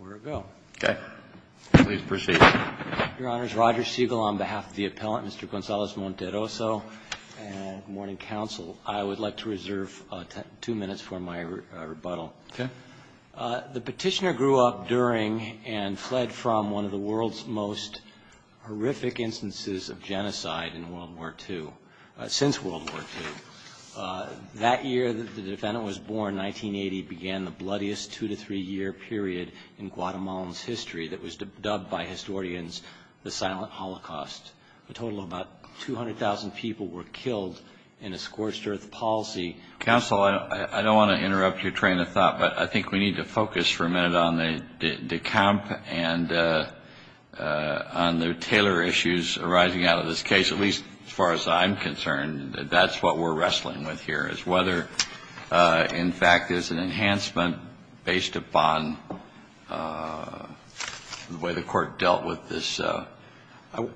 on behalf of the appellant, Mr. Gonzalez-Monterroso, and good morning, counsel. I would like to reserve two minutes for my rebuttal. Okay. The Petitioner grew up during and fled from one of the world's most horrific instances of genocide in World War II, since World War II. That year the defendant was born, 1980, began the bloodiest two-to-three-year period in Guatemala's history that was dubbed by historians the Silent Holocaust. A total of about 200,000 people were killed in a scorched earth policy. Counsel, I don't want to interrupt your train of thought, but I think we need to focus for a minute on the decamp and on the Taylor issues arising out of this case, at least as far as I'm concerned, that that's what we're wrestling with here, is whether, in fact, there's an enhancement based upon the way the Court dealt with this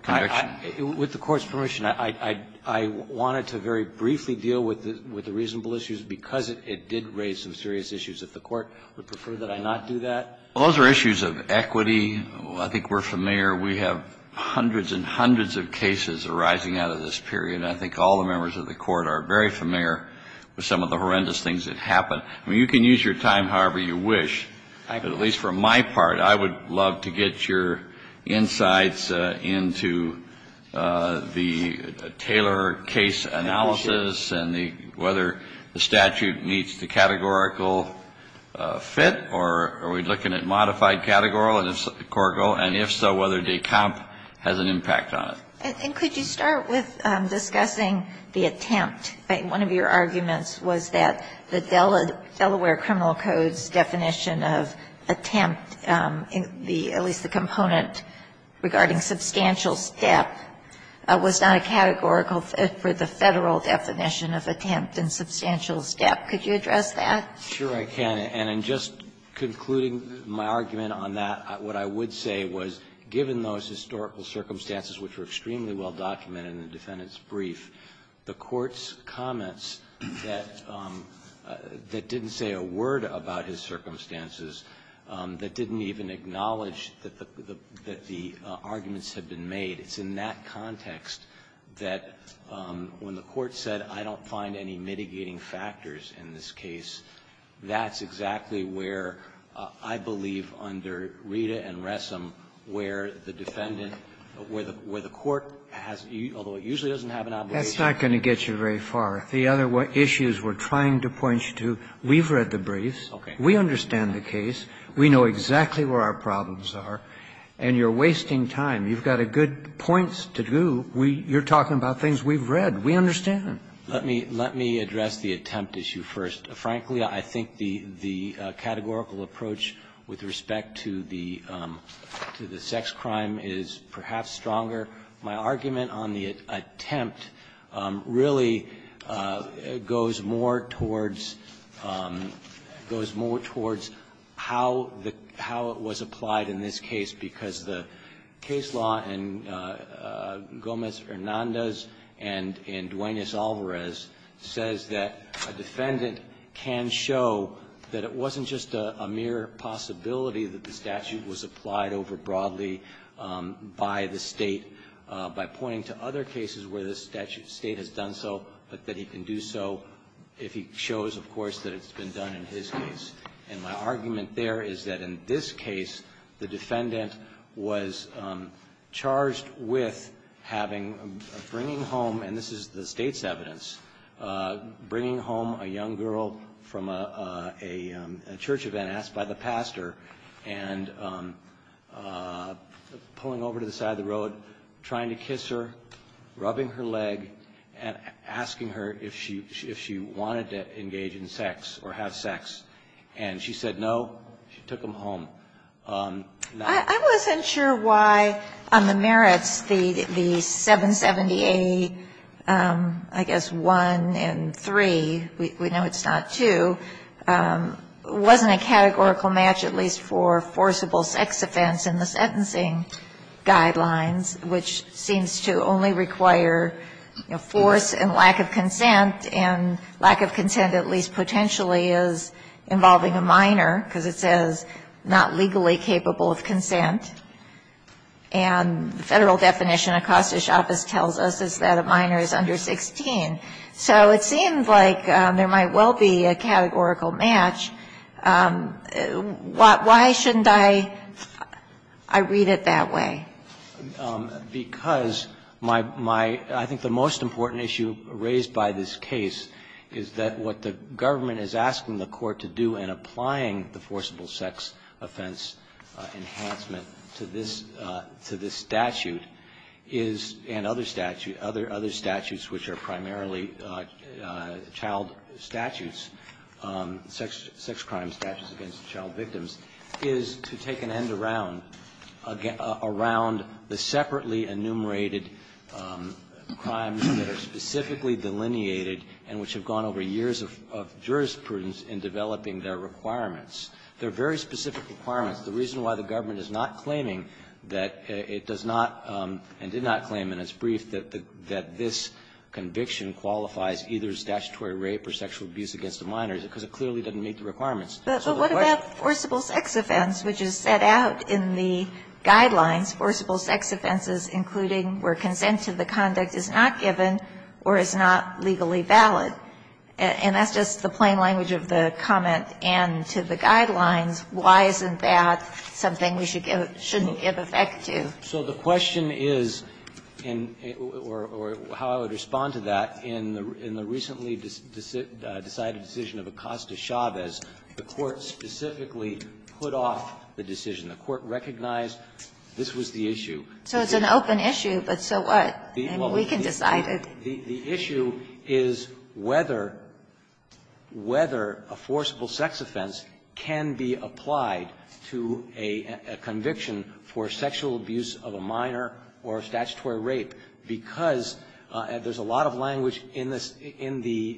conviction. With the Court's permission, I wanted to very briefly deal with the reasonable issues, because it did raise some serious issues. If the Court would prefer that I not do that. Those are issues of equity. I think we're familiar. We have hundreds and hundreds of cases arising out of this period, and I think all the members of the Court are very familiar with some of the horrendous things that happened. I mean, you can use your time however you wish, but at least for my part, I would love to get your insights into the Taylor case analysis and whether the statute meets the categorical fit, or are we looking at modified categorical, and if so, whether decamp has an impact on it. And could you start with discussing the attempt? One of your arguments was that the Delaware Criminal Code's definition of attempt, at least the component regarding substantial step, was not a categorical fit for the Federal definition of attempt and substantial step. Could you address that? Sure, I can. And in just concluding my argument on that, what I would say was, given those historical circumstances which were extremely well documented in the defendant's brief, the Court's comments that didn't say a word about his circumstances, that didn't even acknowledge that the arguments had been made, it's in that context that when the Court said, I don't find any mitigating factors in this case, that's exactly where, I believe, under Rita and Ressam, where the defendant, where the Court has, although it usually doesn't have an obligation. That's not going to get you very far. The other issues we're trying to point you to, we've read the briefs. Okay. We understand the case. We know exactly where our problems are, and you're wasting time. You've got good points to do. You're talking about things we've read. We understand. Let me address the attempt issue first. Frankly, I think the categorical approach with respect to the sex crime is perhaps stronger. My argument on the attempt really goes more towards how it was applied in this case, because the case law in Gomez-Hernandez and in Duenas-Alvarez says that a defendant can show that it wasn't just a mere possibility that the statute was applied over broadly by the State by pointing to other cases where the State has done so, but that he can do so if he shows, of course, that it's been done in his case. And my argument there is that in this case, the defendant was charged with having a bringing home, and this is the State's evidence, bringing home a young girl from a church event asked by the pastor and pulling over to the side of the road, trying to kiss her, rubbing her leg, and asking her if she wanted to engage in sex or have sex, and she said no, she took him home. Now, I wasn't sure why on the merits, the 770A, I guess, 1 and 3, we know it's not 2, wasn't a categorical match, at least for forcible sex offense in the sentencing guidelines, which seems to only require force and lack of consent, and lack of consent at least potentially is involving a minor, because it says not legally capable of consent. And the Federal definition, Acosta's office tells us, is that a minor is under 16. So it seems like there might well be a categorical match. Why shouldn't I read it that way? Because my my I think the most important issue raised by this case is that what the government is asking the court to do in applying the forcible sex offense enhancement to this to this statute is, and other statute, other other statutes which are primarily child statutes, sex crime statutes against child victims, is to take an end around around the separately enumerated crimes that are specifically delineated and which have gone over years of jurisprudence in developing their requirements. There are very specific requirements. The reason why the government is not claiming that it does not and did not claim in its brief that this conviction qualifies either statutory rape or sexual abuse against a minor is because it clearly doesn't meet the requirements. So the question is why shouldn't I read it that way? But what about forcible sex offense, which is set out in the guidelines, forcible sex offenses, including where consent to the conduct is not given or is not legally valid? And that's just the plain language of the comment and to the guidelines. Why isn't that something we should give shouldn't give effect to? So the question is, or how I would respond to that, in the in the recently decided decision of Acosta-Chavez, the Court specifically put off the decision. The Court recognized this was the issue. So it's an open issue, but so what? I mean, we can decide it. The issue is whether whether a forcible sex offense can be applied to a conviction for sexual abuse of a minor or a statutory rape, because there's a lot of language in the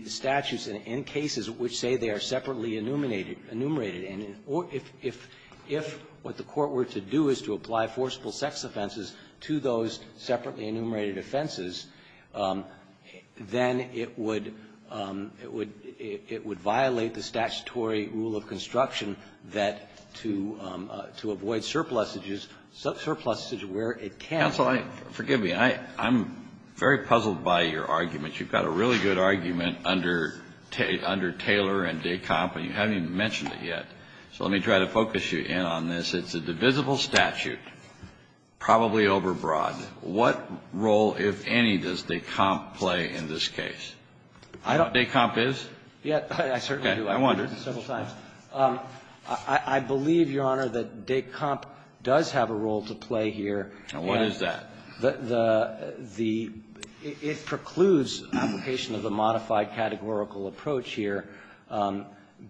statutes and in cases which say they are separately enumerated. And if what the Court were to do is to apply forcible sex offenses to those separately enumerated offenses, then it would violate the statutory rule of construction that to avoid surpluses, surpluses where it can't. Kennedy, I'm very puzzled by your argument. You've got a really good argument under Taylor and Descamp, and you haven't even mentioned it yet. So let me try to focus you in on this. It's a divisible statute, probably overbroad. What role, if any, does Descamp play in this case? Do you know what Descamp is? Yeah, I certainly do. I wonder. I've heard it several times. I believe, Your Honor, that Descamp does have a role to play here. And what is that? The the the it precludes application of a modified categorical approach here,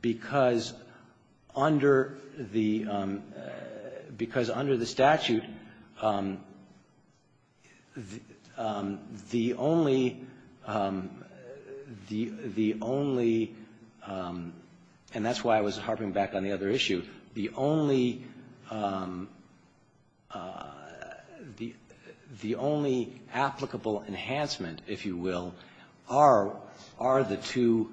because under the because under the statute, the only the the only and that's why I was harping back on the other issue, the only the the only applicable enhancement, if you will, are are the two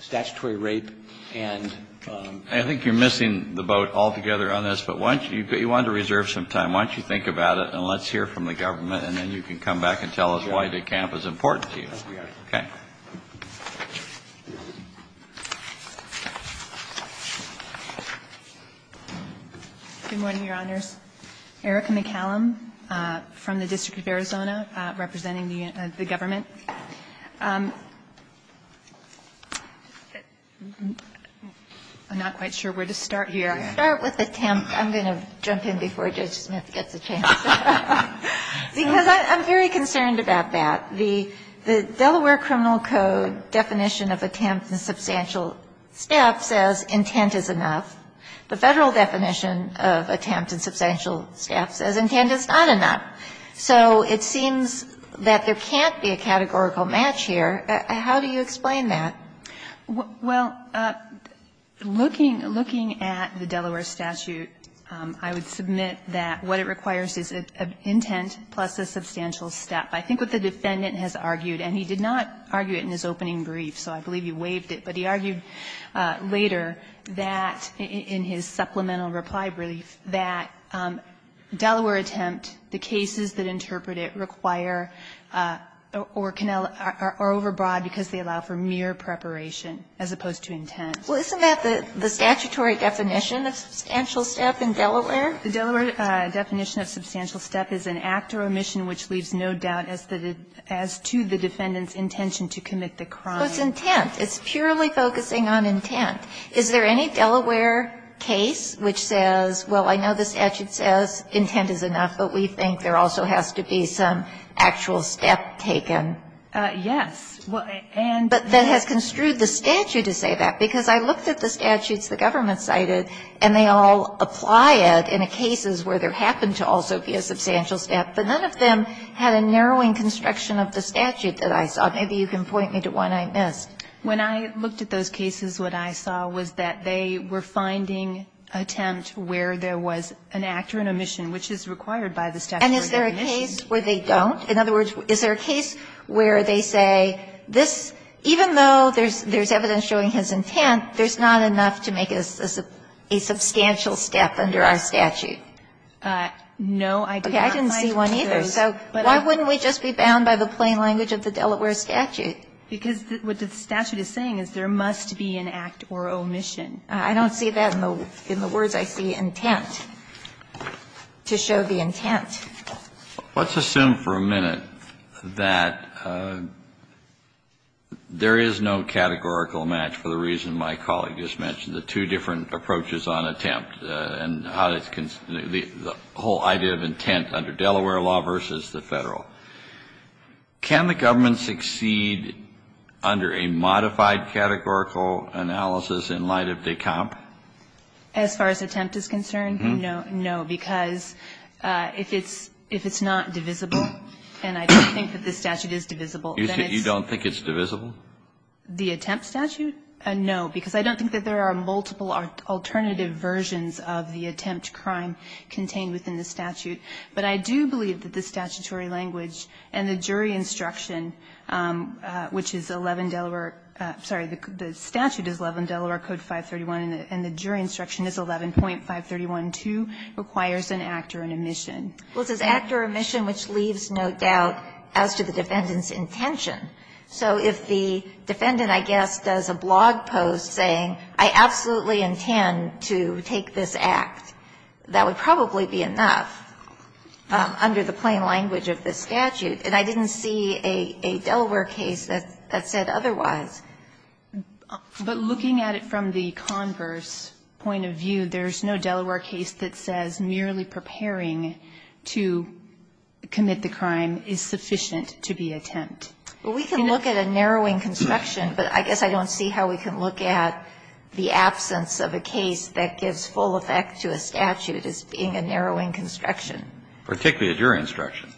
statutory rape and I think you're missing the boat altogether on this, but once you get you want to reserve some time, why don't you think about it, and let's hear from the government, and then you can come back and tell us why Descamp is important to you. Okay. Good morning, Your Honors. Erica McCallum from the District of Arizona, representing the government. I'm not quite sure where to start here. Start with Descamp. I'm going to jump in before Judge Smith gets a chance. Because I'm very concerned about that. The Delaware criminal code definition of attempt and substantial staff says intent is enough. The Federal definition of attempt and substantial staff says intent is not enough. So it seems that there can't be a categorical match here. How do you explain that? Well, looking looking at the Delaware statute, I would submit that what it requires is an intent plus a substantial staff. I think what the defendant has argued, and he did not argue it in his opening brief, so I believe you waived it, but he argued later that in his supplemental reply brief that Delaware attempt, the cases that interpret it require or overbroad because they allow for mere preparation as opposed to intent. Well, isn't that the statutory definition of substantial staff in Delaware? The Delaware definition of substantial staff is an act or omission which leaves no doubt as to the defendant's intention to commit the crime. Well, it's intent. It's purely focusing on intent. Is there any Delaware case which says, well, I know the statute says intent is enough, but we think there also has to be some actual step taken? Yes. But that has construed the statute to say that, because I looked at the statutes the government cited, and they all apply it in cases where there happened to also be a substantial staff, but none of them had a narrowing construction of the statute that I saw. Maybe you can point me to one I missed. When I looked at those cases, what I saw was that they were finding attempt where there was an act or an omission, which is required by the statutory definition. And is there a case where they don't? In other words, is there a case where they say this, even though there's evidence showing his intent, there's not enough to make a substantial step under our statute? No. Okay. I didn't see one either. So why wouldn't we just be bound by the plain language of the Delaware statute? Because what the statute is saying is there must be an act or omission. I don't see that in the words I see, intent, to show the intent. Let's assume for a minute that there is no categorical match for the reason my colleague just mentioned, the two different approaches on attempt and how it's the whole idea of intent under Delaware law versus the Federal. Can the government succeed under a modified categorical analysis in light of DECOMP? As far as attempt is concerned, no. No, because if it's not divisible, and I don't think that this statute is divisible, then it's not. You don't think it's divisible? The attempt statute? No, because I don't think that there are multiple alternative versions of the attempt crime contained within the statute. But I do believe that the statutory language and the jury instruction, which is 11 Delaware – sorry, the statute is 11 Delaware Code 531, and the jury instruction is 11.531.2, requires an act or an omission. Well, it says act or omission, which leaves no doubt as to the defendant's intention. So if the defendant, I guess, does a blog post saying I absolutely intend to take this act, that would probably be enough under the plain language of this statute. And I didn't see a Delaware case that said otherwise. But looking at it from the converse point of view, there's no Delaware case that says merely preparing to commit the crime is sufficient to be attempt. But we can look at a narrowing construction, but I guess I don't see how we can look at the absence of a case that gives full effect to a statute as being a narrowing construction. Particularly a jury instruction.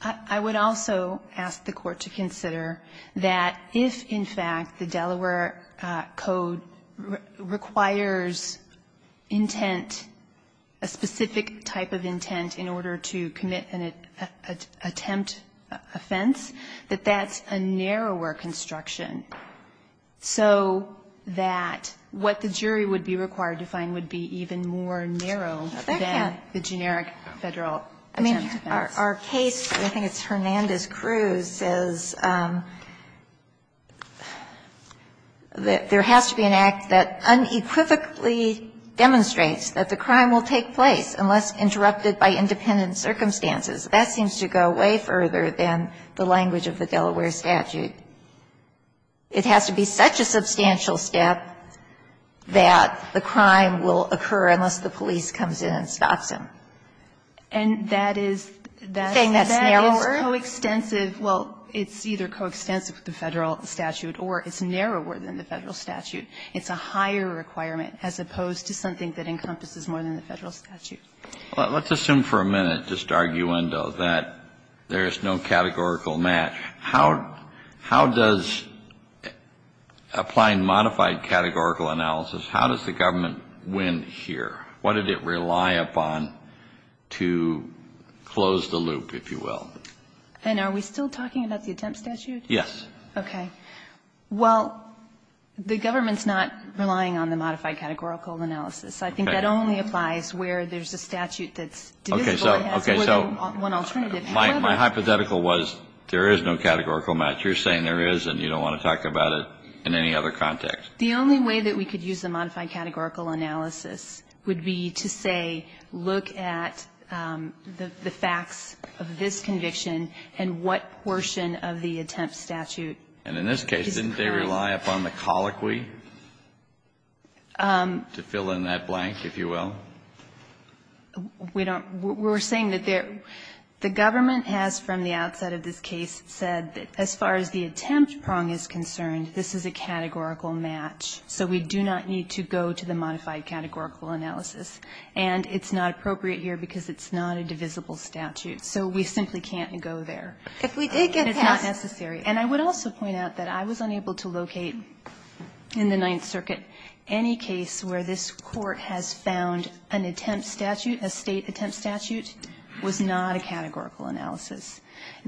I would also ask the Court to consider that if, in fact, the Delaware Code requires intent, a specific type of intent, in order to commit an attempt offense, that that's a narrower construction, so that what the jury would be required to find would be even more narrow than the generic Federal attempt offense. Our case, and I think it's Hernandez-Cruz, says that there has to be an act that unequivocally demonstrates that the crime will take place unless interrupted by independent circumstances. That seems to go way further than the language of the Delaware statute. It has to be such a substantial step that the crime will occur unless the police comes in and stops him. And that is, that is coextensive, well, it's either coextensive with the Federal statute or it's narrower than the Federal statute. It's a higher requirement as opposed to something that encompasses more than the Federal statute. Kennedy. Let's assume for a minute, just arguendo, that there is no categorical match. How does applying modified categorical analysis, how does the government win here? What did it rely upon to close the loop, if you will? And are we still talking about the attempt statute? Yes. Okay. Well, the government's not relying on the modified categorical analysis. I think that only applies where there's a statute that's divisible and has more than one alternative. My hypothetical was there is no categorical match. You're saying there is and you don't want to talk about it in any other context. The only way that we could use the modified categorical analysis would be to say, look at the facts of this conviction and what portion of the attempt statute is pronged. And in this case, didn't they rely upon the colloquy to fill in that blank, if you will? We don't. We're saying that there the government has from the outset of this case said that as far as the attempt prong is concerned, this is a categorical match, so we do not need to go to the modified categorical analysis. And it's not appropriate here because it's not a divisible statute. So we simply can't go there. It's not necessary. And I would also point out that I was unable to locate in the Ninth Circuit any case where this Court has found an attempt statute, a State attempt statute, was not a categorical analysis.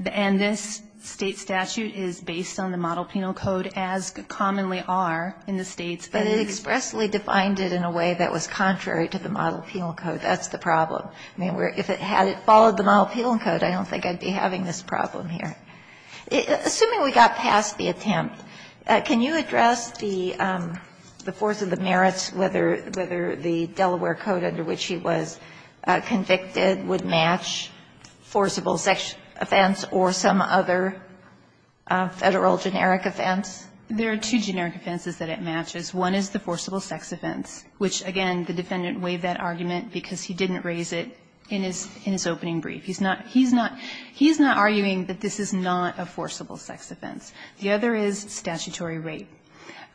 And this State statute is based on the Model Penal Code as commonly are in the States, but it expressly defined it in a way that was contrary to the Model Penal Code. That's the problem. I mean, if it had followed the Model Penal Code, I don't think I'd be having this problem here. Assuming we got past the attempt, can you address the force of the merits, whether the Delaware Code under which he was convicted would match forcible sex offense or some other Federal generic offense? There are two generic offenses that it matches. One is the forcible sex offense, which, again, the defendant waived that argument because he didn't raise it in his opening brief. He's not arguing that this is not a forcible sex offense. The other is statutory rape.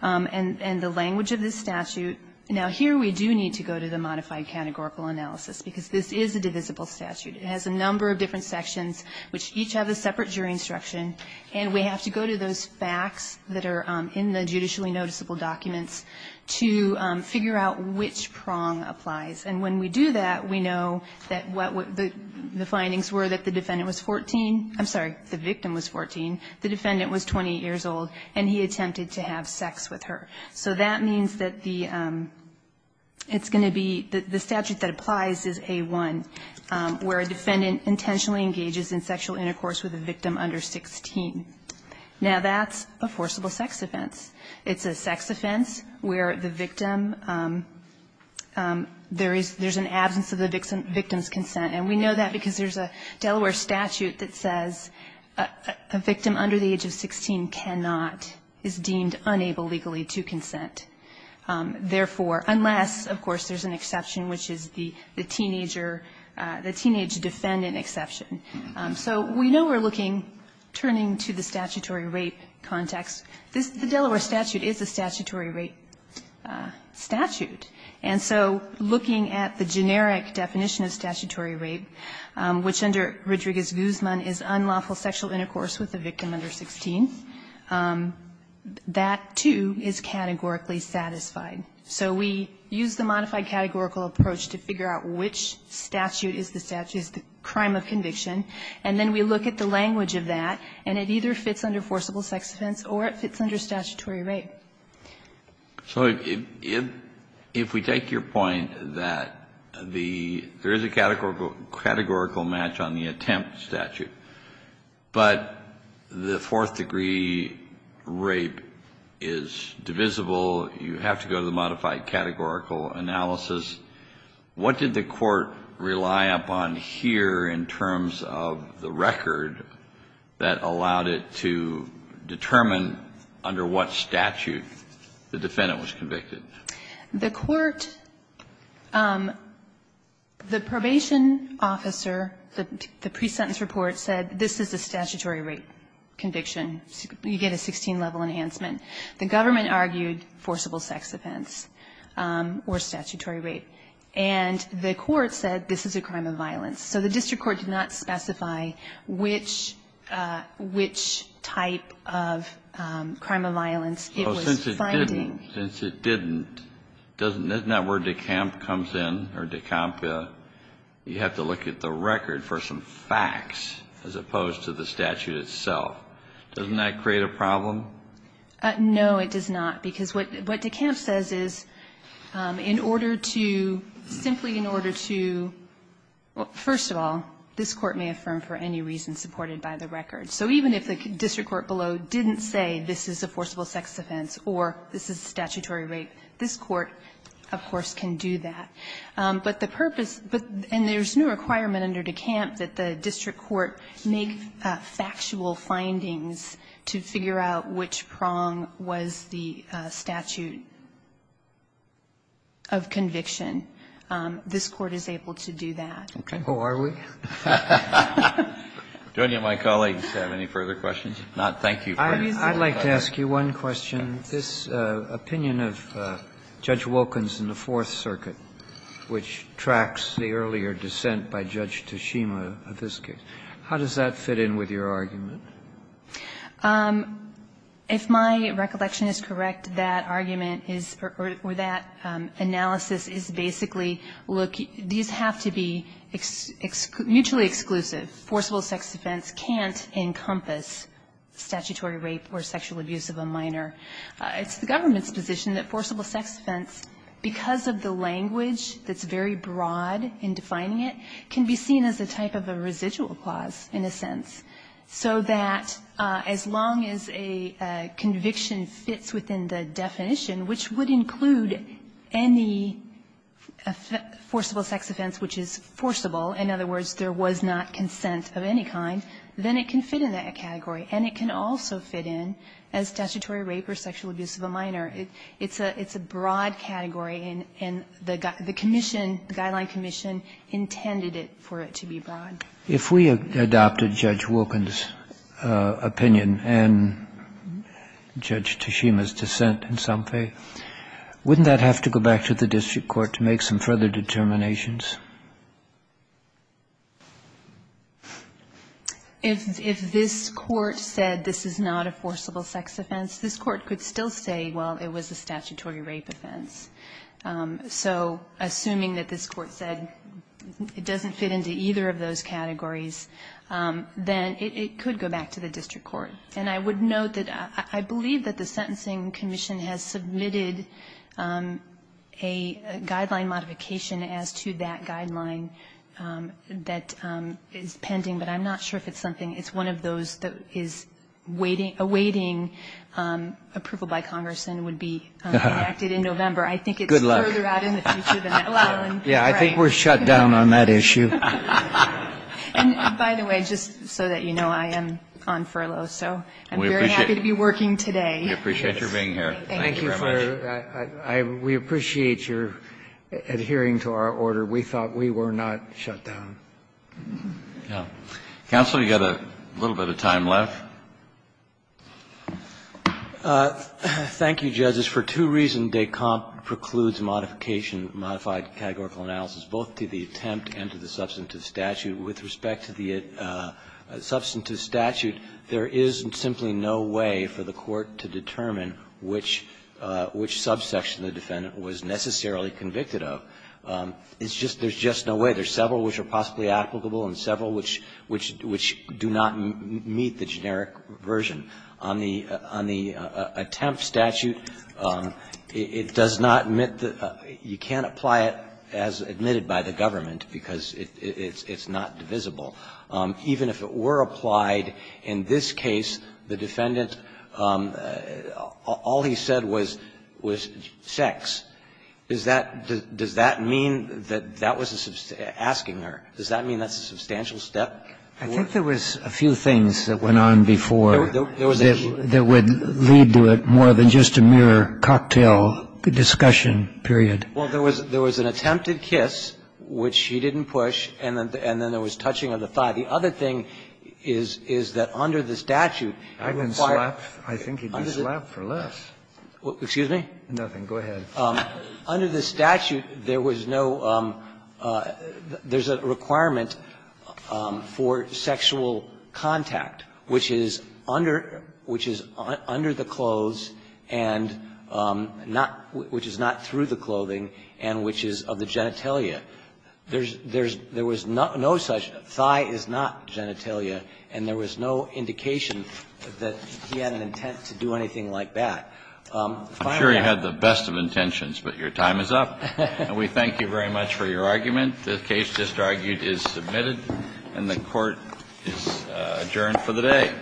And the language of this statute – now, here we do need to go to the modified categorical analysis, because this is a divisible statute. It has a number of different sections which each have a separate jury instruction, and we have to go to those facts that are in the judicially noticeable documents to figure out which prong applies. And when we do that, we know that what the findings were that the defendant was 14 – I'm sorry, the victim was 14, the defendant was 28 years old, and he attempted to have sex with her. So that means that the – it's going to be – the statute that applies is A-1, where a defendant intentionally engages in sexual intercourse with a victim under 16. Now, that's a forcible sex offense. It's a sex offense where the victim – there's an absence of the victim's consent. And we know that because there's a Delaware statute that says a victim under the age of 16 cannot – is deemed unable legally to consent, therefore, unless, of course, there's an exception, which is the teenager – the teenage defendant exception. So we know we're looking – turning to the statutory rape context. This – the Delaware statute is a statutory rape statute. And so looking at the generic definition of statutory rape, which under Rodriguez-Guzman is unlawful sexual intercourse with a victim under 16, that, too, is categorically satisfied. So we use the modified categorical approach to figure out which statute is the statute – is the crime of conviction. And then we look at the language of that, and it either fits under forcible sex offense or it fits under statutory rape. Kennedy. So if – if we take your point that the – there is a categorical – categorical match on the attempt statute, but the fourth-degree rape is divisible, you have to go to the modified categorical analysis, what did the Court rely upon here in terms of the record that allowed it to determine under what statute the defendant was convicted? The Court – the probation officer, the pre-sentence report, said this is a statutory rape conviction. You get a 16-level enhancement. The government argued forcible sex offense or statutory rape. And the Court said this is a crime of violence. So the district court did not specify which – which type of crime of violence it was finding. Since it didn't, doesn't – isn't that where DeCamp comes in, or DeCampa, you have to look at the record for some facts as opposed to the statute itself. Doesn't that create a problem? No, it does not. Because what DeCamp says is in order to – simply in order to – well, first of all, this Court may affirm for any reason supported by the record. So even if the district court below didn't say this is a forcible sex offense or this is a statutory rape, this Court, of course, can do that. But the purpose – and there's no requirement under DeCamp that the district court make factual findings to figure out which prong was the statute of conviction. This Court is able to do that. Who are we? Do any of my colleagues have any further questions? If not, thank you. Kennedy. I'd like to ask you one question. This opinion of Judge Wilkins in the Fourth Circuit, which tracks the earlier dissent by Judge Tashima of this case, how does that fit in with your argument? If my recollection is correct, that argument is – or that analysis is basically look – these have to be mutually exclusive. Forcible sex offense can't encompass statutory rape or sexual abuse of a minor. It's the government's position that forcible sex offense, because of the language that's very broad in defining it, can be seen as a type of a residual clause, in a sense, so that as long as a conviction fits within the definition, which would include any forcible sex offense which is forcible, in other words, there was not consent of any kind, then it can fit in that category. And it can also fit in as statutory rape or sexual abuse of a minor. It's a broad category, and the Commission, the Guideline Commission, intended it for it to be broad. If we adopted Judge Wilkins' opinion and Judge Tashima's dissent in some faith, wouldn't that have to go back to the district court to make some further determinations? If this Court said this is not a forcible sex offense, this Court could still say, well, it was a statutory rape offense. So assuming that this Court said it doesn't fit into either of those categories, then it could go back to the district court. And I would note that I believe that the Sentencing Commission has submitted a guideline modification as to that guideline that is pending. But I'm not sure if it's something. It's one of those that is awaiting approval by Congress and would be enacted in November. I think it's further out in the future than that. Good luck. Yeah, I think we're shut down on that issue. And by the way, just so that you know, I am on furlough, so I'm very happy to be working today. We appreciate your being here. Thank you very much. We appreciate your adhering to our order. We thought we were not shut down. Counsel, you've got a little bit of time left. Thank you, Judge. It's for two reasons. When de comp precludes modification, modified categorical analysis, both to the attempt and to the substantive statute, with respect to the substantive statute, there is simply no way for the Court to determine which subsection the defendant was necessarily convicted of. It's just there's just no way. There's several which are possibly applicable and several which do not meet the generic version. I think it's important to note that on the attempt statute, it does not admit the you can't apply it as admitted by the government because it's not divisible. Even if it were applied in this case, the defendant, all he said was sex. Does that mean that that was asking her? Does that mean that's a substantial step? I think there was a few things that went on before that would lead to it more than just a mere cocktail discussion, period. Well, there was an attempted kiss, which she didn't push, and then there was touching of the thigh. The other thing is that under the statute, it required the defendant to have sex. I think he did slap for less. Excuse me? Nothing. Go ahead. Under the statute, there was no, there's a requirement for sexual contact, which is under, which is under the clothes and not, which is not through the clothing and which is of the genitalia. There's, there's, there was no such, thigh is not genitalia, and there was no indication that he had an intent to do anything like that. I'm sure he had the best of intentions, but your time is up. And we thank you very much for your argument. The case just argued is submitted, and the Court is adjourned for the day.